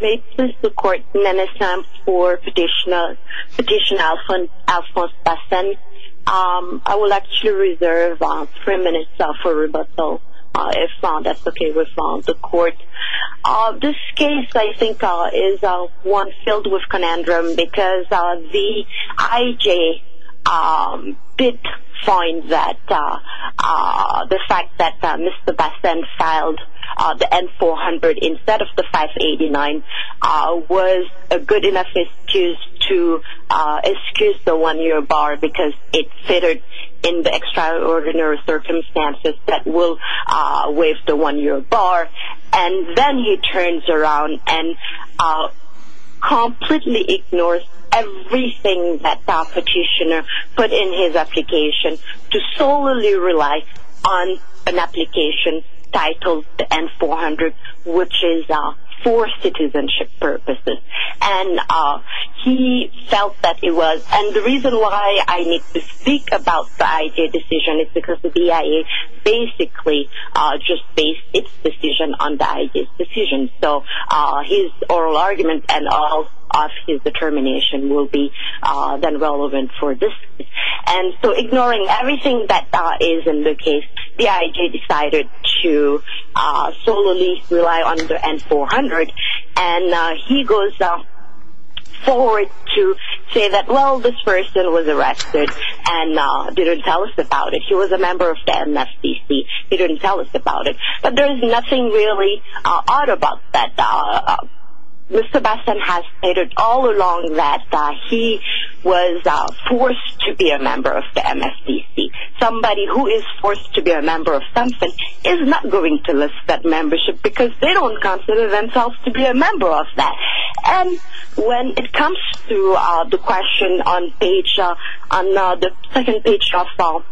May it please the court, Nene Sam for petitioner Alphonse Bassene. I will actually reserve three minutes for rebuttal if that's okay with the court. This case, I think, is one filled with conundrum because the IJ did find that the fact that Mr. Bassene filed the N-400 instead of the 589 was a good enough excuse to excuse the one-year bar because it fitted in the extraordinary circumstances that will waive the one-year bar and then he turns around and completely ignores everything that the petitioner put in his application to solely rely on an application titled N-400 which is for citizenship purposes and he felt that it was and the reason why I need to speak about the IJ decision is because the BIA basically just based its decision on the IJ's decision so his oral argument and all of his determination will be then relevant for this case. And so ignoring everything that is in the case, the IJ decided to solely rely on the N-400 and he goes forward to say that, well, this person was arrested and didn't tell us about it. He was a member of the MFDC. He didn't tell us about it, but there is nothing really odd about that. Mr. Bassene has stated all along that he was forced to be a member of the MFDC. Somebody who is forced to be a member of something is not going to list that membership because they don't consider themselves to be a member of that. And when it comes to the question on page, on the second page of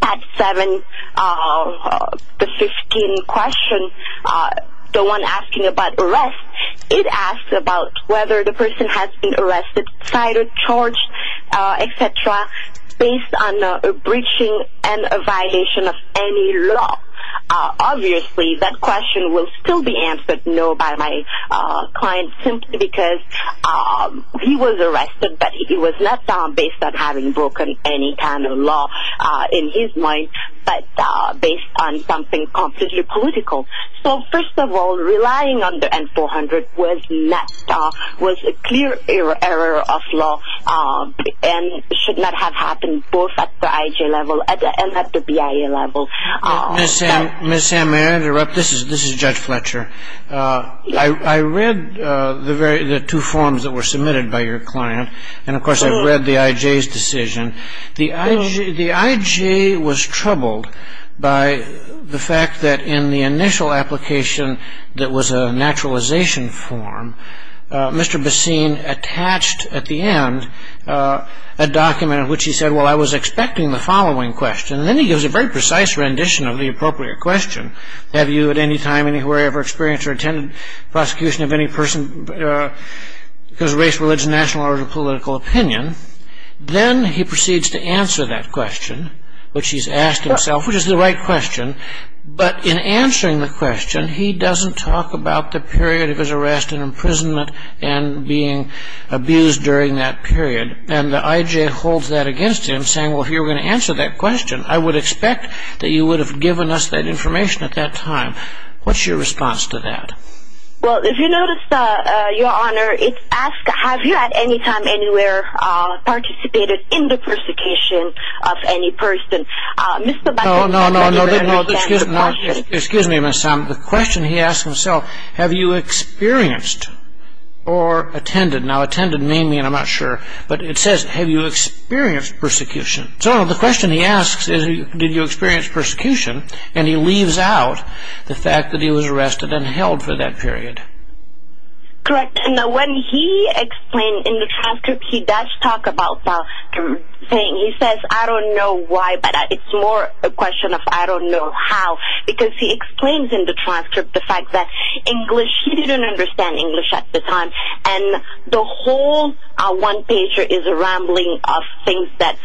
Pad 7, the 15 question, the one asking about arrest, it asks about whether the person has been arrested, cited, charged, etc. based on a breaching and a violation of any law. Obviously, that question will still be answered no by my client simply because he was arrested, but it was not based on having broken any kind of law in his mind, but based on something completely political. So first of all, relying on the N-400 was a clear error of law and should not have happened both at the IJ level and at the BIA level. Ms. Sam, may I interrupt? This is Judge Fletcher. I read the two forms that were submitted by your client, and of course I've read the IJ's decision. The IJ was troubled by the fact that in the initial application that was a naturalization form, Mr. Bassene attached at the end a document in which he said, Well, I was expecting the following question. Then he gives a very precise rendition of the appropriate question. Have you at any time anywhere ever experienced or attended prosecution of any person because of race, religion, national or political opinion? Then he proceeds to answer that question, which he's asked himself, which is the right question, but in answering the question, he doesn't talk about the period of his arrest and imprisonment and being abused during that period, and the IJ holds that against him, saying, Well, if you were going to answer that question, I would expect that you would have given us that information at that time. What's your response to that? Well, if you notice, Your Honor, it asks, Have you at any time anywhere participated in the persecution of any person? No, no, no. Excuse me, Ms. Sam. The question he asks himself, Have you experienced or attended? Now, attended may mean I'm not sure, but it says, Have you experienced persecution? So the question he asks is, Did you experience persecution? And he leaves out the fact that he was arrested and held for that period. Correct. Now, when he explained in the transcript, he does talk about saying, He says, I don't know why, but it's more a question of I don't know how, because he explains in the transcript the fact that English, he didn't understand English at the time, and the whole one-pager is a rambling of things that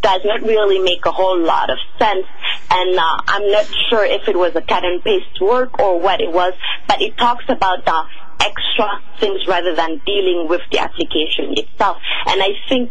does not really make a whole lot of sense, and I'm not sure if it was a cut-and-paste work or what it was, but he talks about the extra things rather than dealing with the application itself. And I think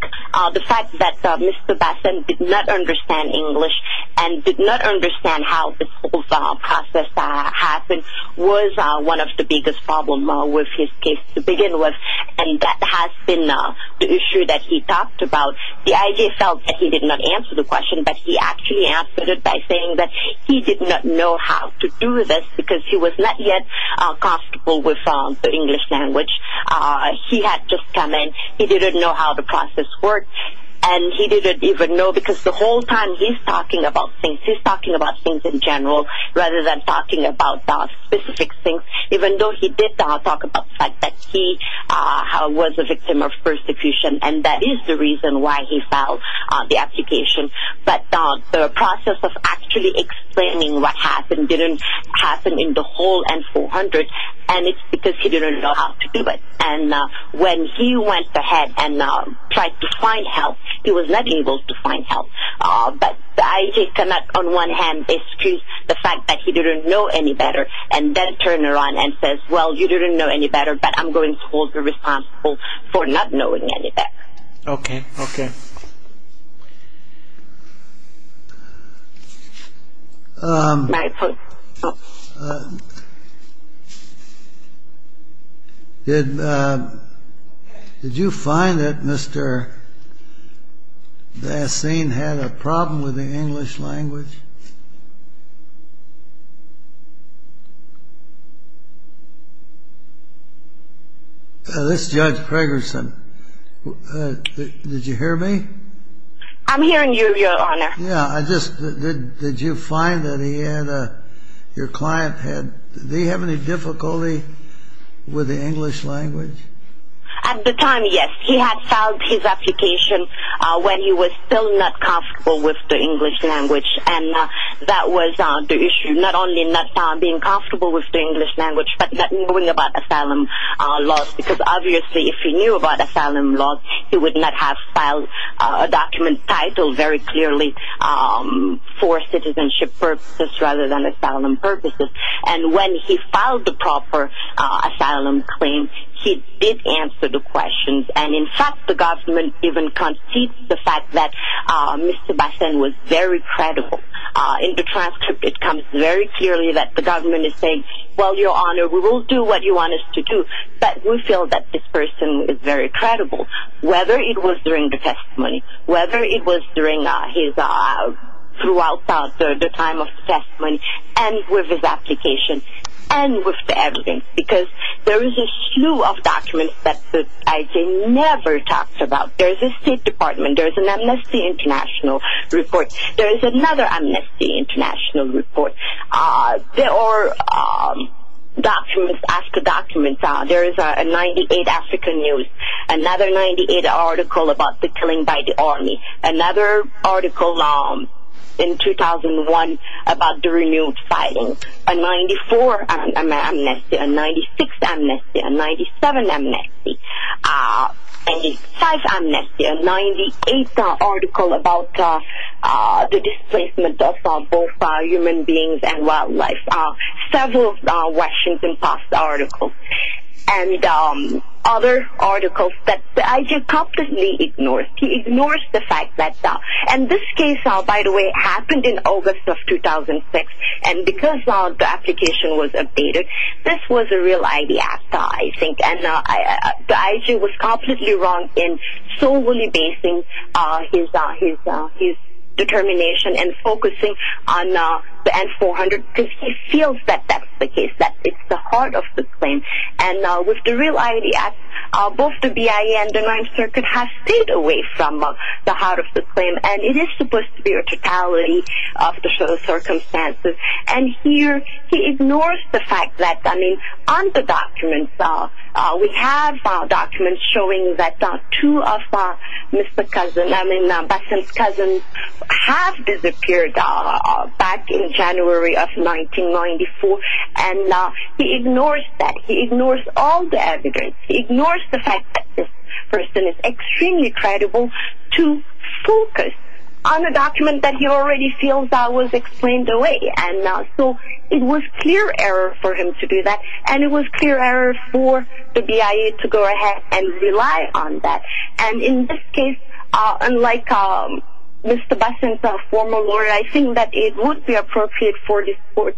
the fact that Mr. Bassan did not understand English and did not understand how this whole process happened was one of the biggest problems with his case to begin with, and that has been the issue that he talked about. The IJ felt that he did not answer the question, but he actually answered it by saying that he did not know how to do this because he was not yet comfortable with the English language. He had just come in. He didn't know how the process worked, and he didn't even know because the whole time he's talking about things. He's talking about things in general rather than talking about specific things, even though he did talk about the fact that he was a victim of persecution, and that is the reason why he filed the application. But the process of actually explaining what happened didn't happen in the whole N-400, and it's because he didn't know how to do it. And when he went ahead and tried to find help, he was not able to find help. But the IJ cannot on one hand excuse the fact that he didn't know any better and then turn around and say, well, you didn't know any better, but I'm going to hold you responsible for not knowing any better. Okay, okay. Did you find that Mr. Bassin had a problem with the English language? This is Judge Preggerson. Did you hear me? I'm hearing you, Your Honor. Yeah, I just, did you find that he had, your client had, did he have any difficulty with the English language? At the time, yes. He had filed his application when he was still not comfortable with the English language, and that was the issue, not only not being comfortable with the English language, but not knowing about Asylum laws, because obviously if he knew about Asylum laws, he would not have filed a document titled very clearly for citizenship purposes rather than Asylum purposes. And when he filed the proper Asylum claim, he did answer the questions. And, in fact, the government even concedes the fact that Mr. Bassin was very credible. In the transcript, it comes very clearly that the government is saying, well, Your Honor, we will do what you want us to do, but we feel that this person is very credible, whether it was during the testimony, whether it was during his, throughout the time of the testimony, and with his application, and with the evidence, because there is a slew of documents that the ICA never talks about. There is a State Department. There is an Amnesty International report. There is another Amnesty International report. There are documents after documents. There is a 98 African News, another 98 article about the killing by the army, another article in 2001 about the renewed fighting, a 94 Amnesty, a 96 Amnesty, a 97 Amnesty, a 95 Amnesty, a 98 article about the displacement of both human beings and wildlife, several Washington Post articles, and other articles that the ICA completely ignores. He ignores the fact that, and this case, by the way, happened in August of 2006, and because the application was updated, this was a real idea, I think, and the ICA was completely wrong in solely basing his determination and focusing on the N-400 because he feels that that's the case, that it's the heart of the claim, and with the real idea, both the BIA and the Ninth Circuit have stayed away from the heart of the claim, and it is supposed to be a totality of the circumstances, and here he ignores the fact that, I mean, on the documents, we have documents showing that two of Mr. Cousin, I mean, Bassam's cousins have disappeared back in January of 1994, and he ignores that. He ignores all the evidence. He ignores the fact that this person is extremely credible to focus on a document that he already feels was explained away, and so it was clear error for him to do that, and it was clear error for the BIA to go ahead and rely on that, and in this case, unlike Mr. Bassam's former lawyer, I think that it would be appropriate for this court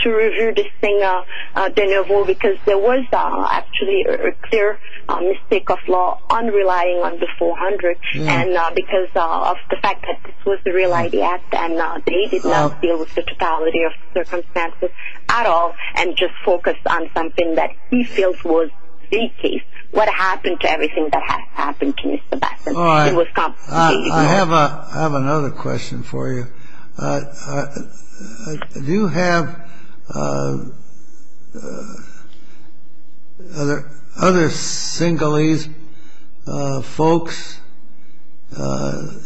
to review this thing de nouveau because there was actually a clear mistake of law on relying on the 400 and because of the fact that this was the real idea, and they did not deal with the totality of circumstances at all and just focused on something that he feels was the case, what happened to everything that had happened to Mr. Bassam. It was complicated. I have another question for you. Do you have other Sinhalese folks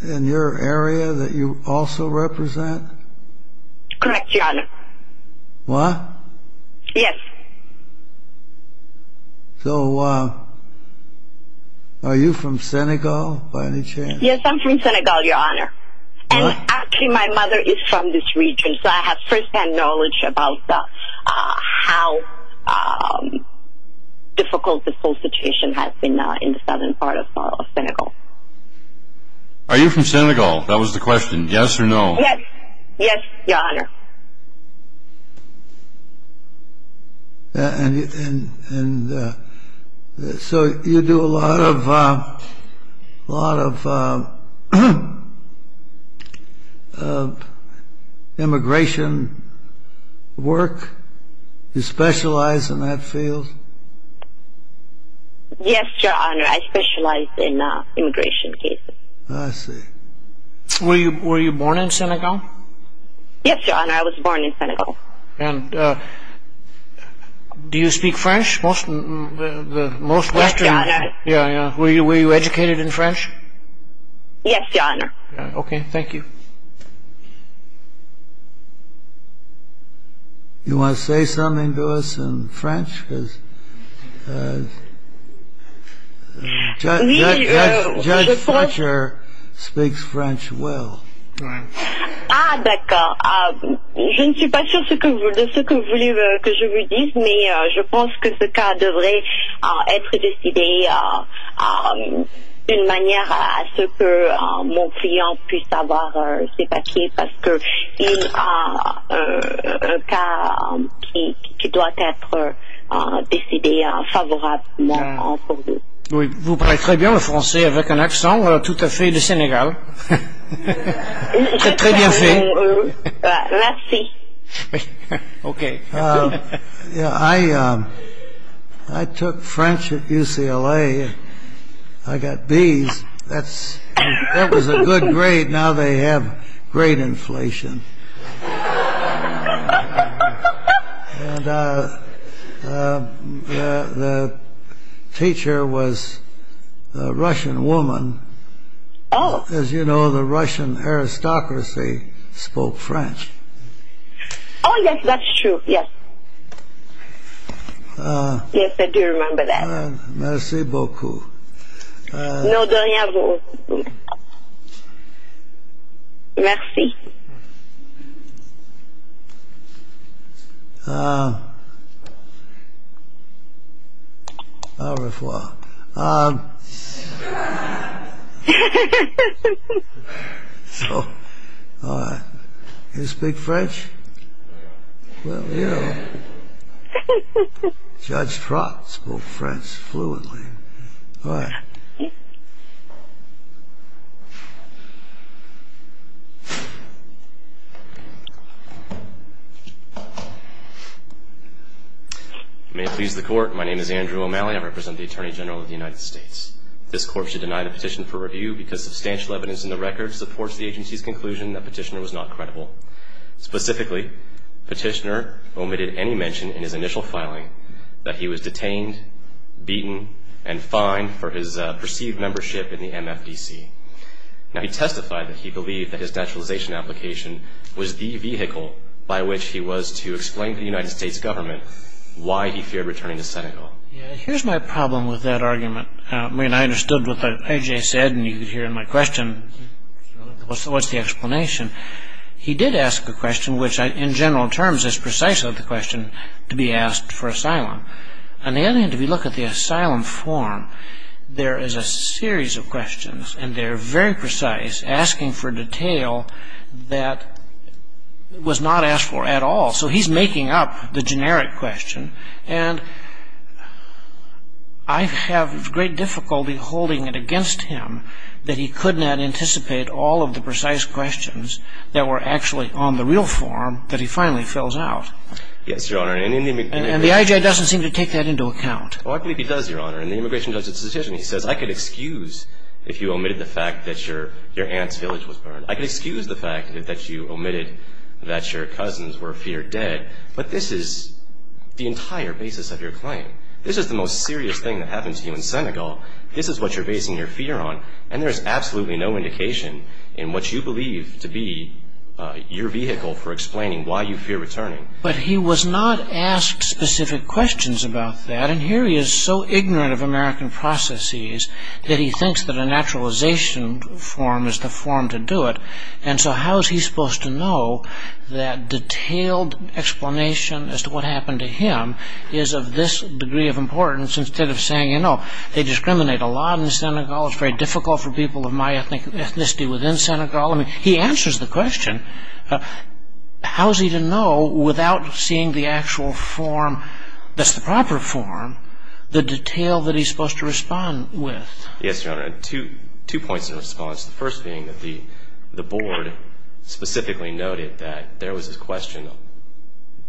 in your area that you also represent? Correct, Your Honor. What? Yes. So are you from Senegal by any chance? Yes, I'm from Senegal, Your Honor, and actually my mother is from this region, so I have firsthand knowledge about how difficult the whole situation has been in the southern part of Senegal. Are you from Senegal? That was the question. Yes or no? Yes, Your Honor. And so you do a lot of immigration work? You specialize in that field? Yes, Your Honor, I specialize in immigration cases. I see. Were you born in Senegal? Yes, Your Honor, I was born in Senegal. And do you speak French? Yes, Your Honor. Were you educated in French? Yes, Your Honor. Okay, thank you. Do you want to say something to us in French? Judge Fletcher speaks French well. Ah, okay. I'm not sure what you want me to say, but I think this case should be decided in a way that my client can have his papers, because he has a case that must be decided favorably for him. You speak French very well, with a very Senegalese accent. Very well done. Thank you. Okay. I took French at UCLA. I got B's. That was a good grade. Now they have great inflation. And the teacher was a Russian woman. As you know, the Russian aristocracy spoke French. Oh, yes, that's true, yes. Yes, I do remember that. Merci beaucoup. No, de rien, vous. Merci. Au revoir. You speak French? Well, you know, Judge Trott spoke French fluently. All right. May it please the Court, my name is Andrew O'Malley. I represent the Attorney General of the United States. This court should deny the petition for review because substantial evidence in the record supports the agency's conclusion that petitioner was not credible. Specifically, petitioner omitted any mention in his initial filing that he was detained, beaten, and fined for his perceived membership in the MFDC. Now, he testified that he believed that his naturalization application was the vehicle by which he was to explain to the United States government why he feared returning to Senegal. Yes, here's my problem with that argument. I mean, I understood what A.J. said, and you could hear in my question what's the explanation. He did ask a question which, in general terms, is precisely the question to be asked for asylum. On the other hand, if you look at the asylum form, there is a series of questions, and they're very precise, asking for detail that was not asked for at all. So he's making up the generic question, and I have great difficulty holding it against him that he could not anticipate all of the precise questions that were actually on the real form that he finally fills out. Yes, Your Honor. And the I.J. doesn't seem to take that into account. Well, I believe he does, Your Honor. In the Immigration Judges' Petition, he says, I could excuse if you omitted the fact that your aunt's village was burned. I could excuse the fact that you omitted that your cousins were feared dead, but this is the entire basis of your claim. This is the most serious thing that happened to you in Senegal. This is what you're basing your fear on, and there's absolutely no indication in what you believe to be your vehicle for explaining why you fear returning. But he was not asked specific questions about that, and here he is so ignorant of American processes that he thinks that a naturalization form is the form to do it. And so how is he supposed to know that detailed explanation as to what happened to him is of this degree of importance, instead of saying, you know, they discriminate a lot in Senegal. It's very difficult for people of my ethnicity within Senegal. I mean, he answers the question. How is he to know without seeing the actual form that's the proper form, the detail that he's supposed to respond with? Yes, Your Honor. Two points of response, the first being that the board specifically noted that there was a question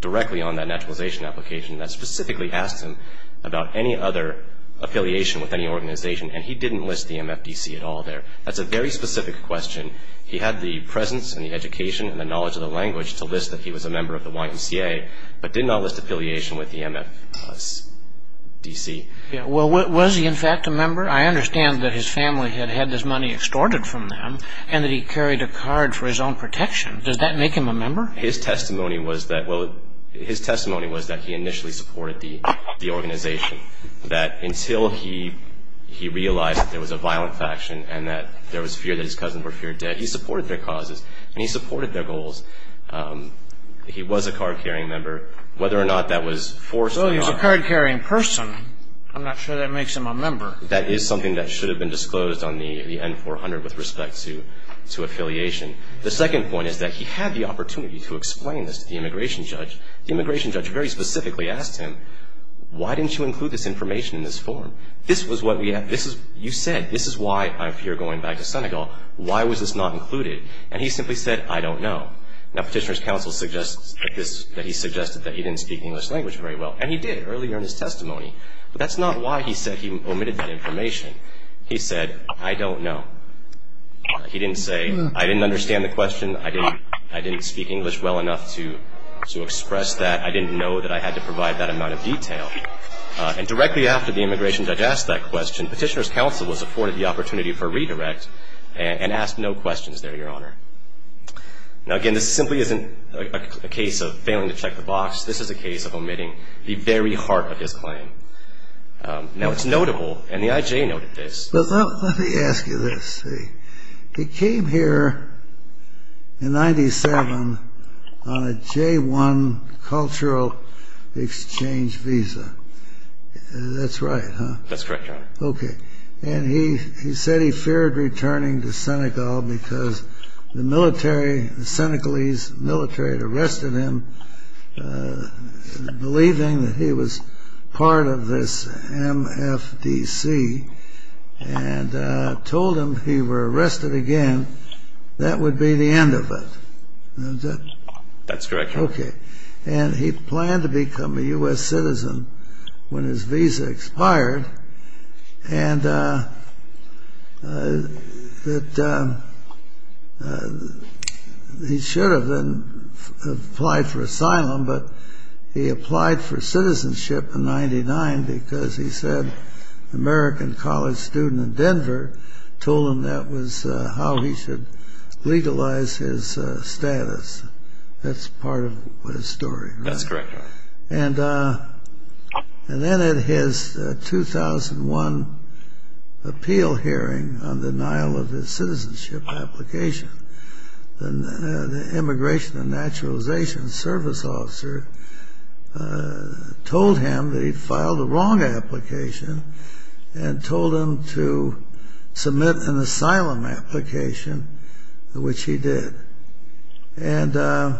directly on that naturalization application that specifically asked him about any other affiliation with any organization, and he didn't list the MFDC at all there. That's a very specific question. He had the presence and the education and the knowledge of the language to list that he was a member of the YMCA, but did not list affiliation with the MFDC. Well, was he in fact a member? I understand that his family had had this money extorted from them Does that make him a member? His testimony was that, well, his testimony was that he initially supported the organization, that until he realized that there was a violent faction and that there was fear that his cousins were feared dead, he supported their causes and he supported their goals. He was a card-carrying member. Whether or not that was forced on him So he was a card-carrying person, I'm not sure that makes him a member. That is something that should have been disclosed on the N-400 with respect to affiliation. The second point is that he had the opportunity to explain this to the immigration judge. The immigration judge very specifically asked him, why didn't you include this information in this form? You said, this is why I'm here going back to Senegal. Why was this not included? And he simply said, I don't know. Now petitioner's counsel suggests that he suggested that he didn't speak English language very well. And he did earlier in his testimony. But that's not why he said he omitted that information. He said, I don't know. He didn't say, I didn't understand the question. I didn't speak English well enough to express that. I didn't know that I had to provide that amount of detail. And directly after the immigration judge asked that question, petitioner's counsel was afforded the opportunity for a redirect and asked no questions there, your honor. Now again, this simply isn't a case of failing to check the box. This is a case of omitting the very heart of his claim. Now it's notable, and the IJ noted this. But let me ask you this. He came here in 97 on a J-1 cultural exchange visa. That's right, huh? That's correct, your honor. Okay. And he said he feared returning to Senegal because the military, the Senegalese military had arrested him, believing that he was part of this MFDC and told him if he were arrested again, that would be the end of it. That's correct, your honor. Okay. And he planned to become a U.S. citizen when his visa expired. And he should have then applied for asylum, but he applied for citizenship in 99 because he said American college student in Denver told him that was how he should legalize his status. That's part of his story, right? That's correct, your honor. And then at his 2001 appeal hearing on denial of his citizenship application, the immigration and naturalization service officer told him that he'd filed a wrong application and told him to submit an asylum application, which he did. And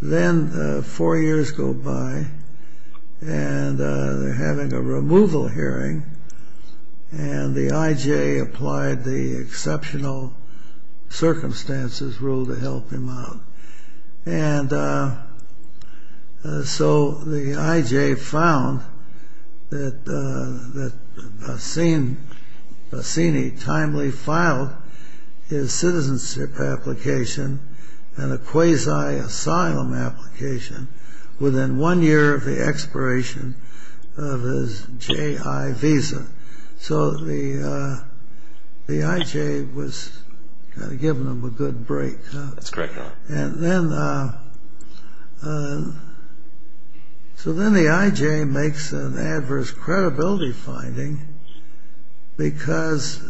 then four years go by and they're having a removal hearing and the IJ applied the exceptional circumstances rule to help him out. And so the IJ found that Bassini timely filed his citizenship application and a quasi-asylum application within one year of the expiration of his J.I. visa. So the IJ was giving him a good break. That's correct, your honor. And then, so then the IJ makes an adverse credibility finding because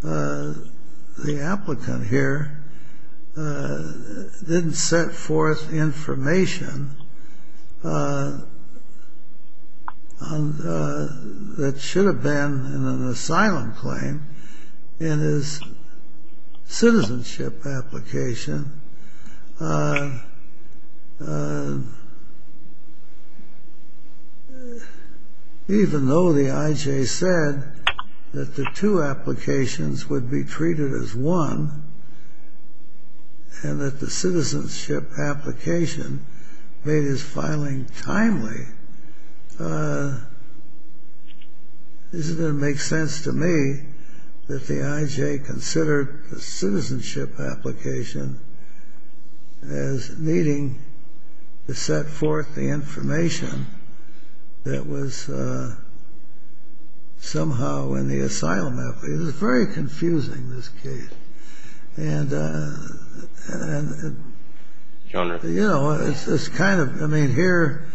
the applicant here didn't set forth information that should have been in an asylum claim in his citizenship application, even though the IJ said that the two applications would be treated as one and that the citizenship application made his filing timely. This is going to make sense to me that the IJ considered the citizenship application as needing to set forth the information that was somehow in the asylum application. It's very confusing, this case. And, you know, it's kind of, I mean, here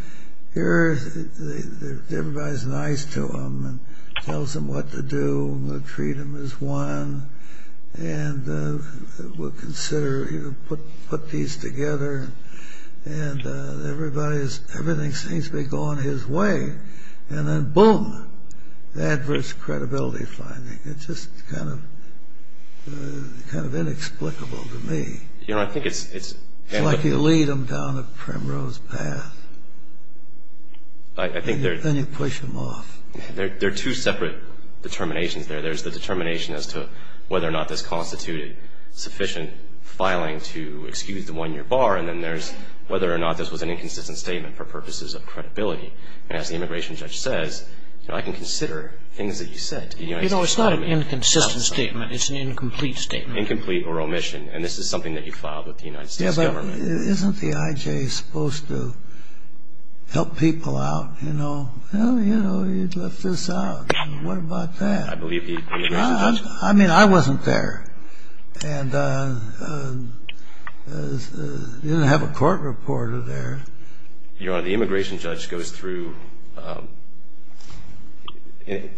everybody's nice to him and tells him what to do, the freedom is one, and we'll consider, put these together. And everybody is, everything seems to be going his way. And then, boom, the adverse credibility finding. It's just kind of inexplicable to me. Your honor, I think it's It's like you lead them down a primrose path. I think there Then you push them off. There are two separate determinations there. There's the determination as to whether or not this constituted sufficient filing to excuse the one-year bar, and then there's whether or not this was an inconsistent statement for purposes of credibility. And as the immigration judge says, you know, I can consider things that you said. You know, it's not an inconsistent statement. It's an incomplete statement. Incomplete or omission. And this is something that you filed with the United States government. Yeah, but isn't the IJ supposed to help people out? You know, well, you know, you left this out. What about that? I believe the immigration judge I mean, I wasn't there. And you didn't have a court reporter there. Your honor, the immigration judge goes through,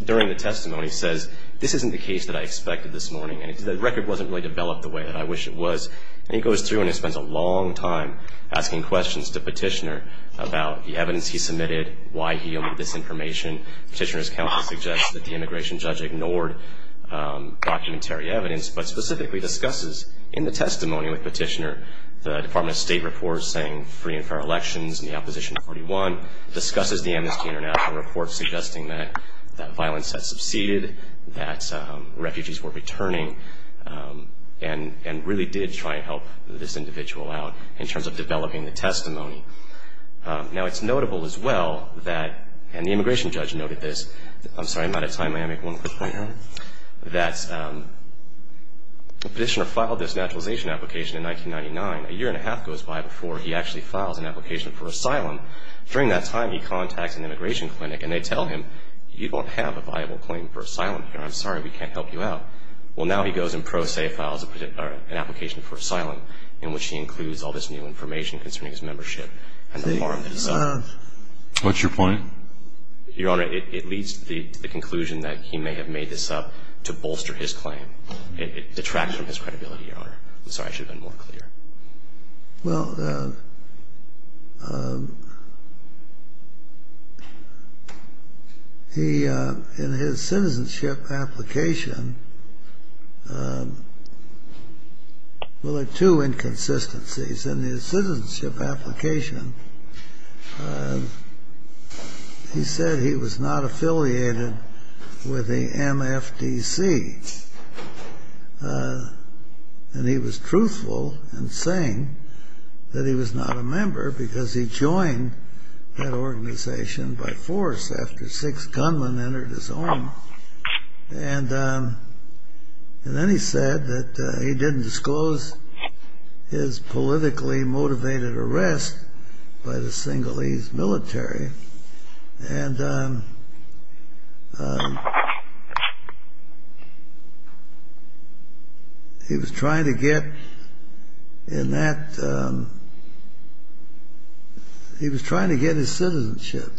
during the testimony, says this isn't the case that I expected this morning, and the record wasn't really developed the way that I wish it was. And he goes through and he spends a long time asking questions to Petitioner about the evidence he submitted, why he omitted this information. Petitioner's counsel suggests that the immigration judge ignored documentary evidence, but specifically discusses in the testimony with Petitioner the Department of State report saying free and fair elections in the Opposition 41, discusses the Amnesty International report suggesting that violence had succeeded, that refugees were returning, and really did try and help this individual out in terms of developing the testimony. Now, it's notable as well that, and the immigration judge noted this, I'm sorry, I'm out of time. May I make one quick point here? That Petitioner filed this naturalization application in 1999, a year and a half goes by before he actually files an application for asylum. During that time, he contacts an immigration clinic and they tell him, you don't have a viable claim for asylum here, I'm sorry, we can't help you out. Well, now he goes and pro se files an application for asylum, in which he includes all this new information concerning his membership and the farm itself. What's your point? Your honor, it leads to the conclusion that he may have made this up to bolster his claim. It detracts from his credibility, your honor. I'm sorry, I should have been more clear. Well, in his citizenship application, well, there are two inconsistencies. In his citizenship application, he said he was not affiliated with the MFDC. And he was truthful in saying that he was not a member, because he joined that organization by force after six gunmen entered his home. And then he said that he didn't disclose his politically motivated arrest by the single-ease military. And he was trying to get in that, he was trying to get his citizenship.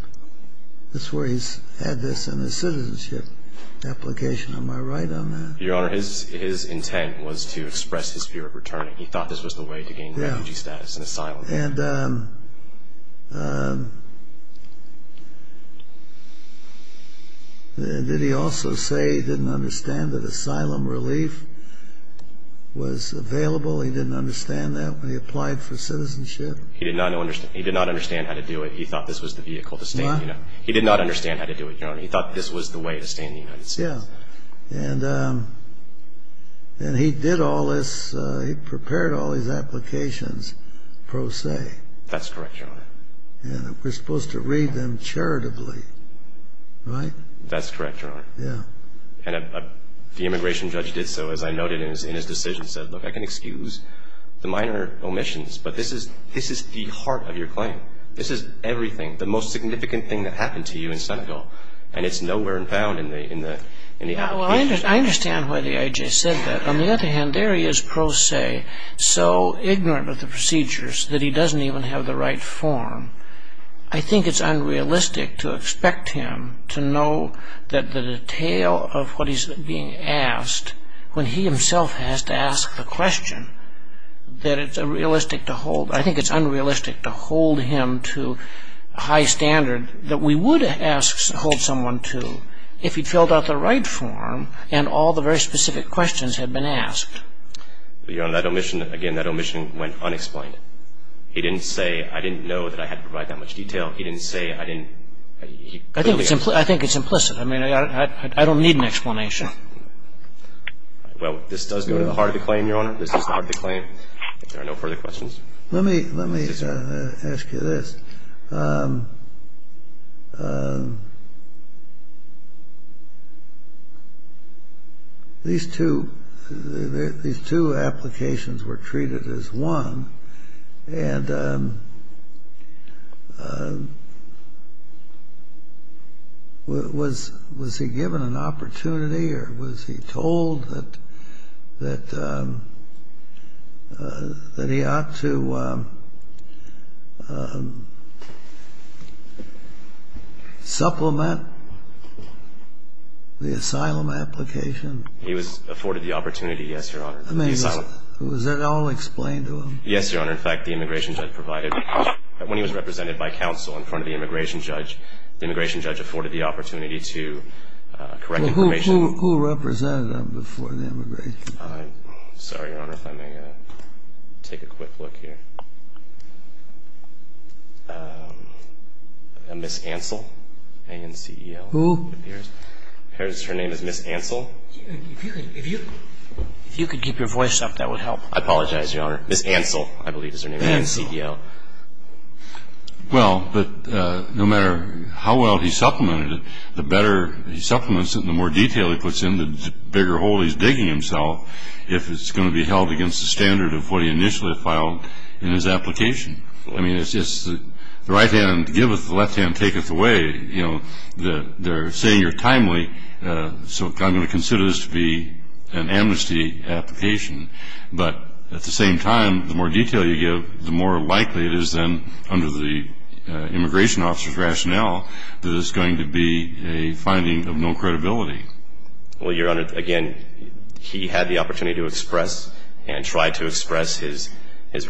That's where he's had this in his citizenship application. Am I right on that? Your honor, his intent was to express his fear of returning. He thought this was the way to gain refugee status and asylum. And did he also say he didn't understand that asylum relief was available? He didn't understand that when he applied for citizenship? He did not understand how to do it. He thought this was the vehicle to stay in the United States. He did not understand how to do it, your honor. He thought this was the way to stay in the United States. And he did all this, he prepared all his applications pro se. That's correct, your honor. And we're supposed to read them charitably, right? That's correct, your honor. And the immigration judge did so, as I noted in his decision, said, look, I can excuse the minor omissions, but this is the heart of your claim. This is everything, the most significant thing that happened to you in Senegal. And it's nowhere found in the application. I understand why the I.J. said that. On the other hand, there he is pro se, so ignorant of the procedures that he doesn't even have the right form. I think it's unrealistic to expect him to know the detail of what he's being asked when he himself has to ask the question. I think it's unrealistic to hold him to a high standard that we would hold someone to if he filled out the right form and all the very specific questions had been asked. Your honor, that omission, again, that omission went unexplained. He didn't say, I didn't know that I had to provide that much detail. He didn't say, I didn't. I think it's implicit. I mean, I don't need an explanation. Well, this does go to the heart of the claim, your honor. This is the heart of the claim. If there are no further questions. Let me ask you this. These two applications were treated as one. And was he given an opportunity or was he told that he ought to supplement the asylum application? He was afforded the opportunity, yes, your honor. Was that all explained to him? Yes, your honor. In fact, the immigration judge provided. When he was represented by counsel in front of the immigration judge, the immigration judge afforded the opportunity to correct information. Who represented him before the immigration? Sorry, your honor, if I may take a quick look here. Ms. Ansel, A-N-C-E-L. Who? Her name is Ms. Ansel. If you could keep your voice up, that would help. I apologize, your honor. Ms. Ansel, I believe is her name, A-N-C-E-L. Well, but no matter how well he supplemented it, the better he supplements it and the more detail he puts in, the bigger hole he's digging himself if it's going to be held against the standard of what he initially filed in his application. I mean, it's just the right hand giveth, the left hand taketh away. You know, they're saying you're timely, so I'm going to consider this to be an amnesty application. But at the same time, the more detail you give, the more likely it is then under the immigration officer's rationale that it's going to be a finding of no credibility. Well, your honor, again, he had the opportunity to express and tried to express his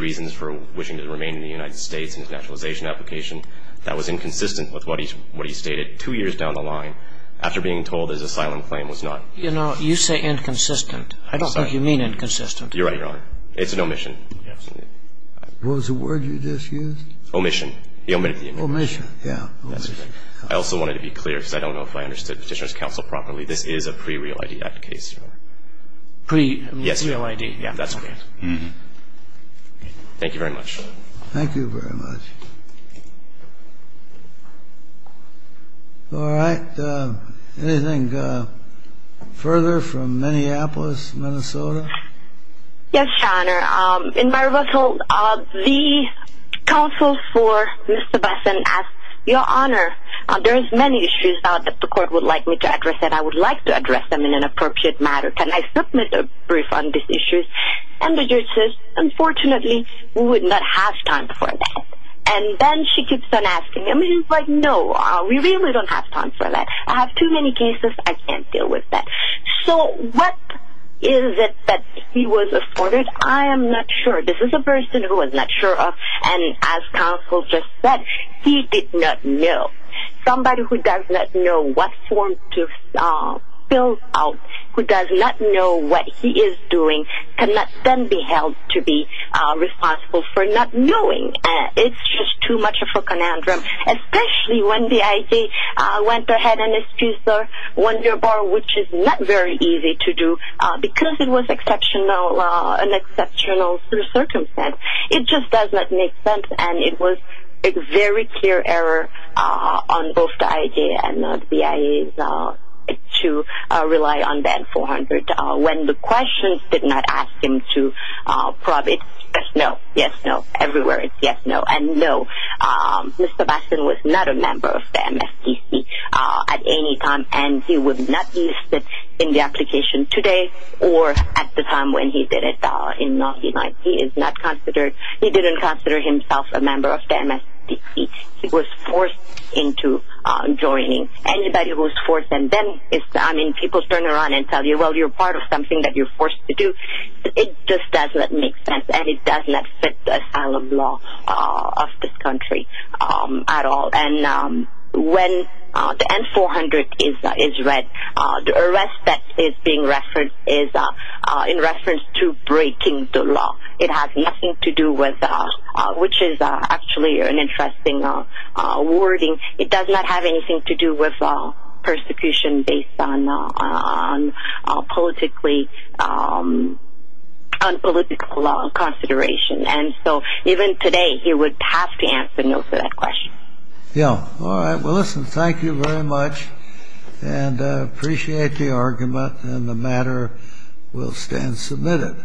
reasons for wishing to remain in the United States in his naturalization application. That was inconsistent with what he stated two years down the line after being told his asylum claim was not. You know, you say inconsistent. I don't think you mean inconsistent. You're right, your honor. It's an omission. What was the word you just used? Omission. He omitted the omission. Omission, yeah. I also wanted to be clear, because I don't know if I understood Petitioner's counsel properly. This is a pre-real ID case. Pre-real ID. Yes, real ID. Yeah, that's correct. Thank you very much. Thank you very much. All right. Anything further from Minneapolis, Minnesota? Yes, your honor. In my rebuttal, the counsel for Ms. Sebastian asked, your honor, there's many issues that the court would like me to address that I would like to address them in an appropriate manner. Can I submit a brief on these issues? And the judge says, unfortunately, we would not have time for that. And then she keeps on asking him, and he's like, no, we really don't have time for that. I have too many cases. I can't deal with that. So what is it that he was afforded? I am not sure. This is a person who was not sure of, and as counsel just said, he did not know. Somebody who does not know what form to fill out, who does not know what he is doing, cannot then be held to be responsible for not knowing. It's just too much of a conundrum, especially when the IAEA went ahead and excused the one-year bar, which is not very easy to do, because it was an exceptional circumstance. It just does not make sense, and it was a very clear error on both the IAEA and the BIA to rely on that 400. And when the questions did not ask him to probe it, yes, no, yes, no, everywhere it's yes, no, and no. Mr. Baskin was not a member of the MSTC at any time, and he would not be listed in the application today or at the time when he did it in 1990. He is not considered he didn't consider himself a member of the MSTC. He was forced into joining. Anybody who is forced, and then people turn around and tell you, well, you're part of something that you're forced to do. It just does not make sense, and it does not fit the style of law of this country at all. And when the N-400 is read, the arrest that is being referenced is in reference to breaking the law. It has nothing to do with, which is actually an interesting wording. It does not have anything to do with persecution based on politically, on political consideration. And so even today, he would have to answer no to that question. Yeah, all right. Well, listen, thank you very much, and I appreciate the argument, and the matter will stand submitted.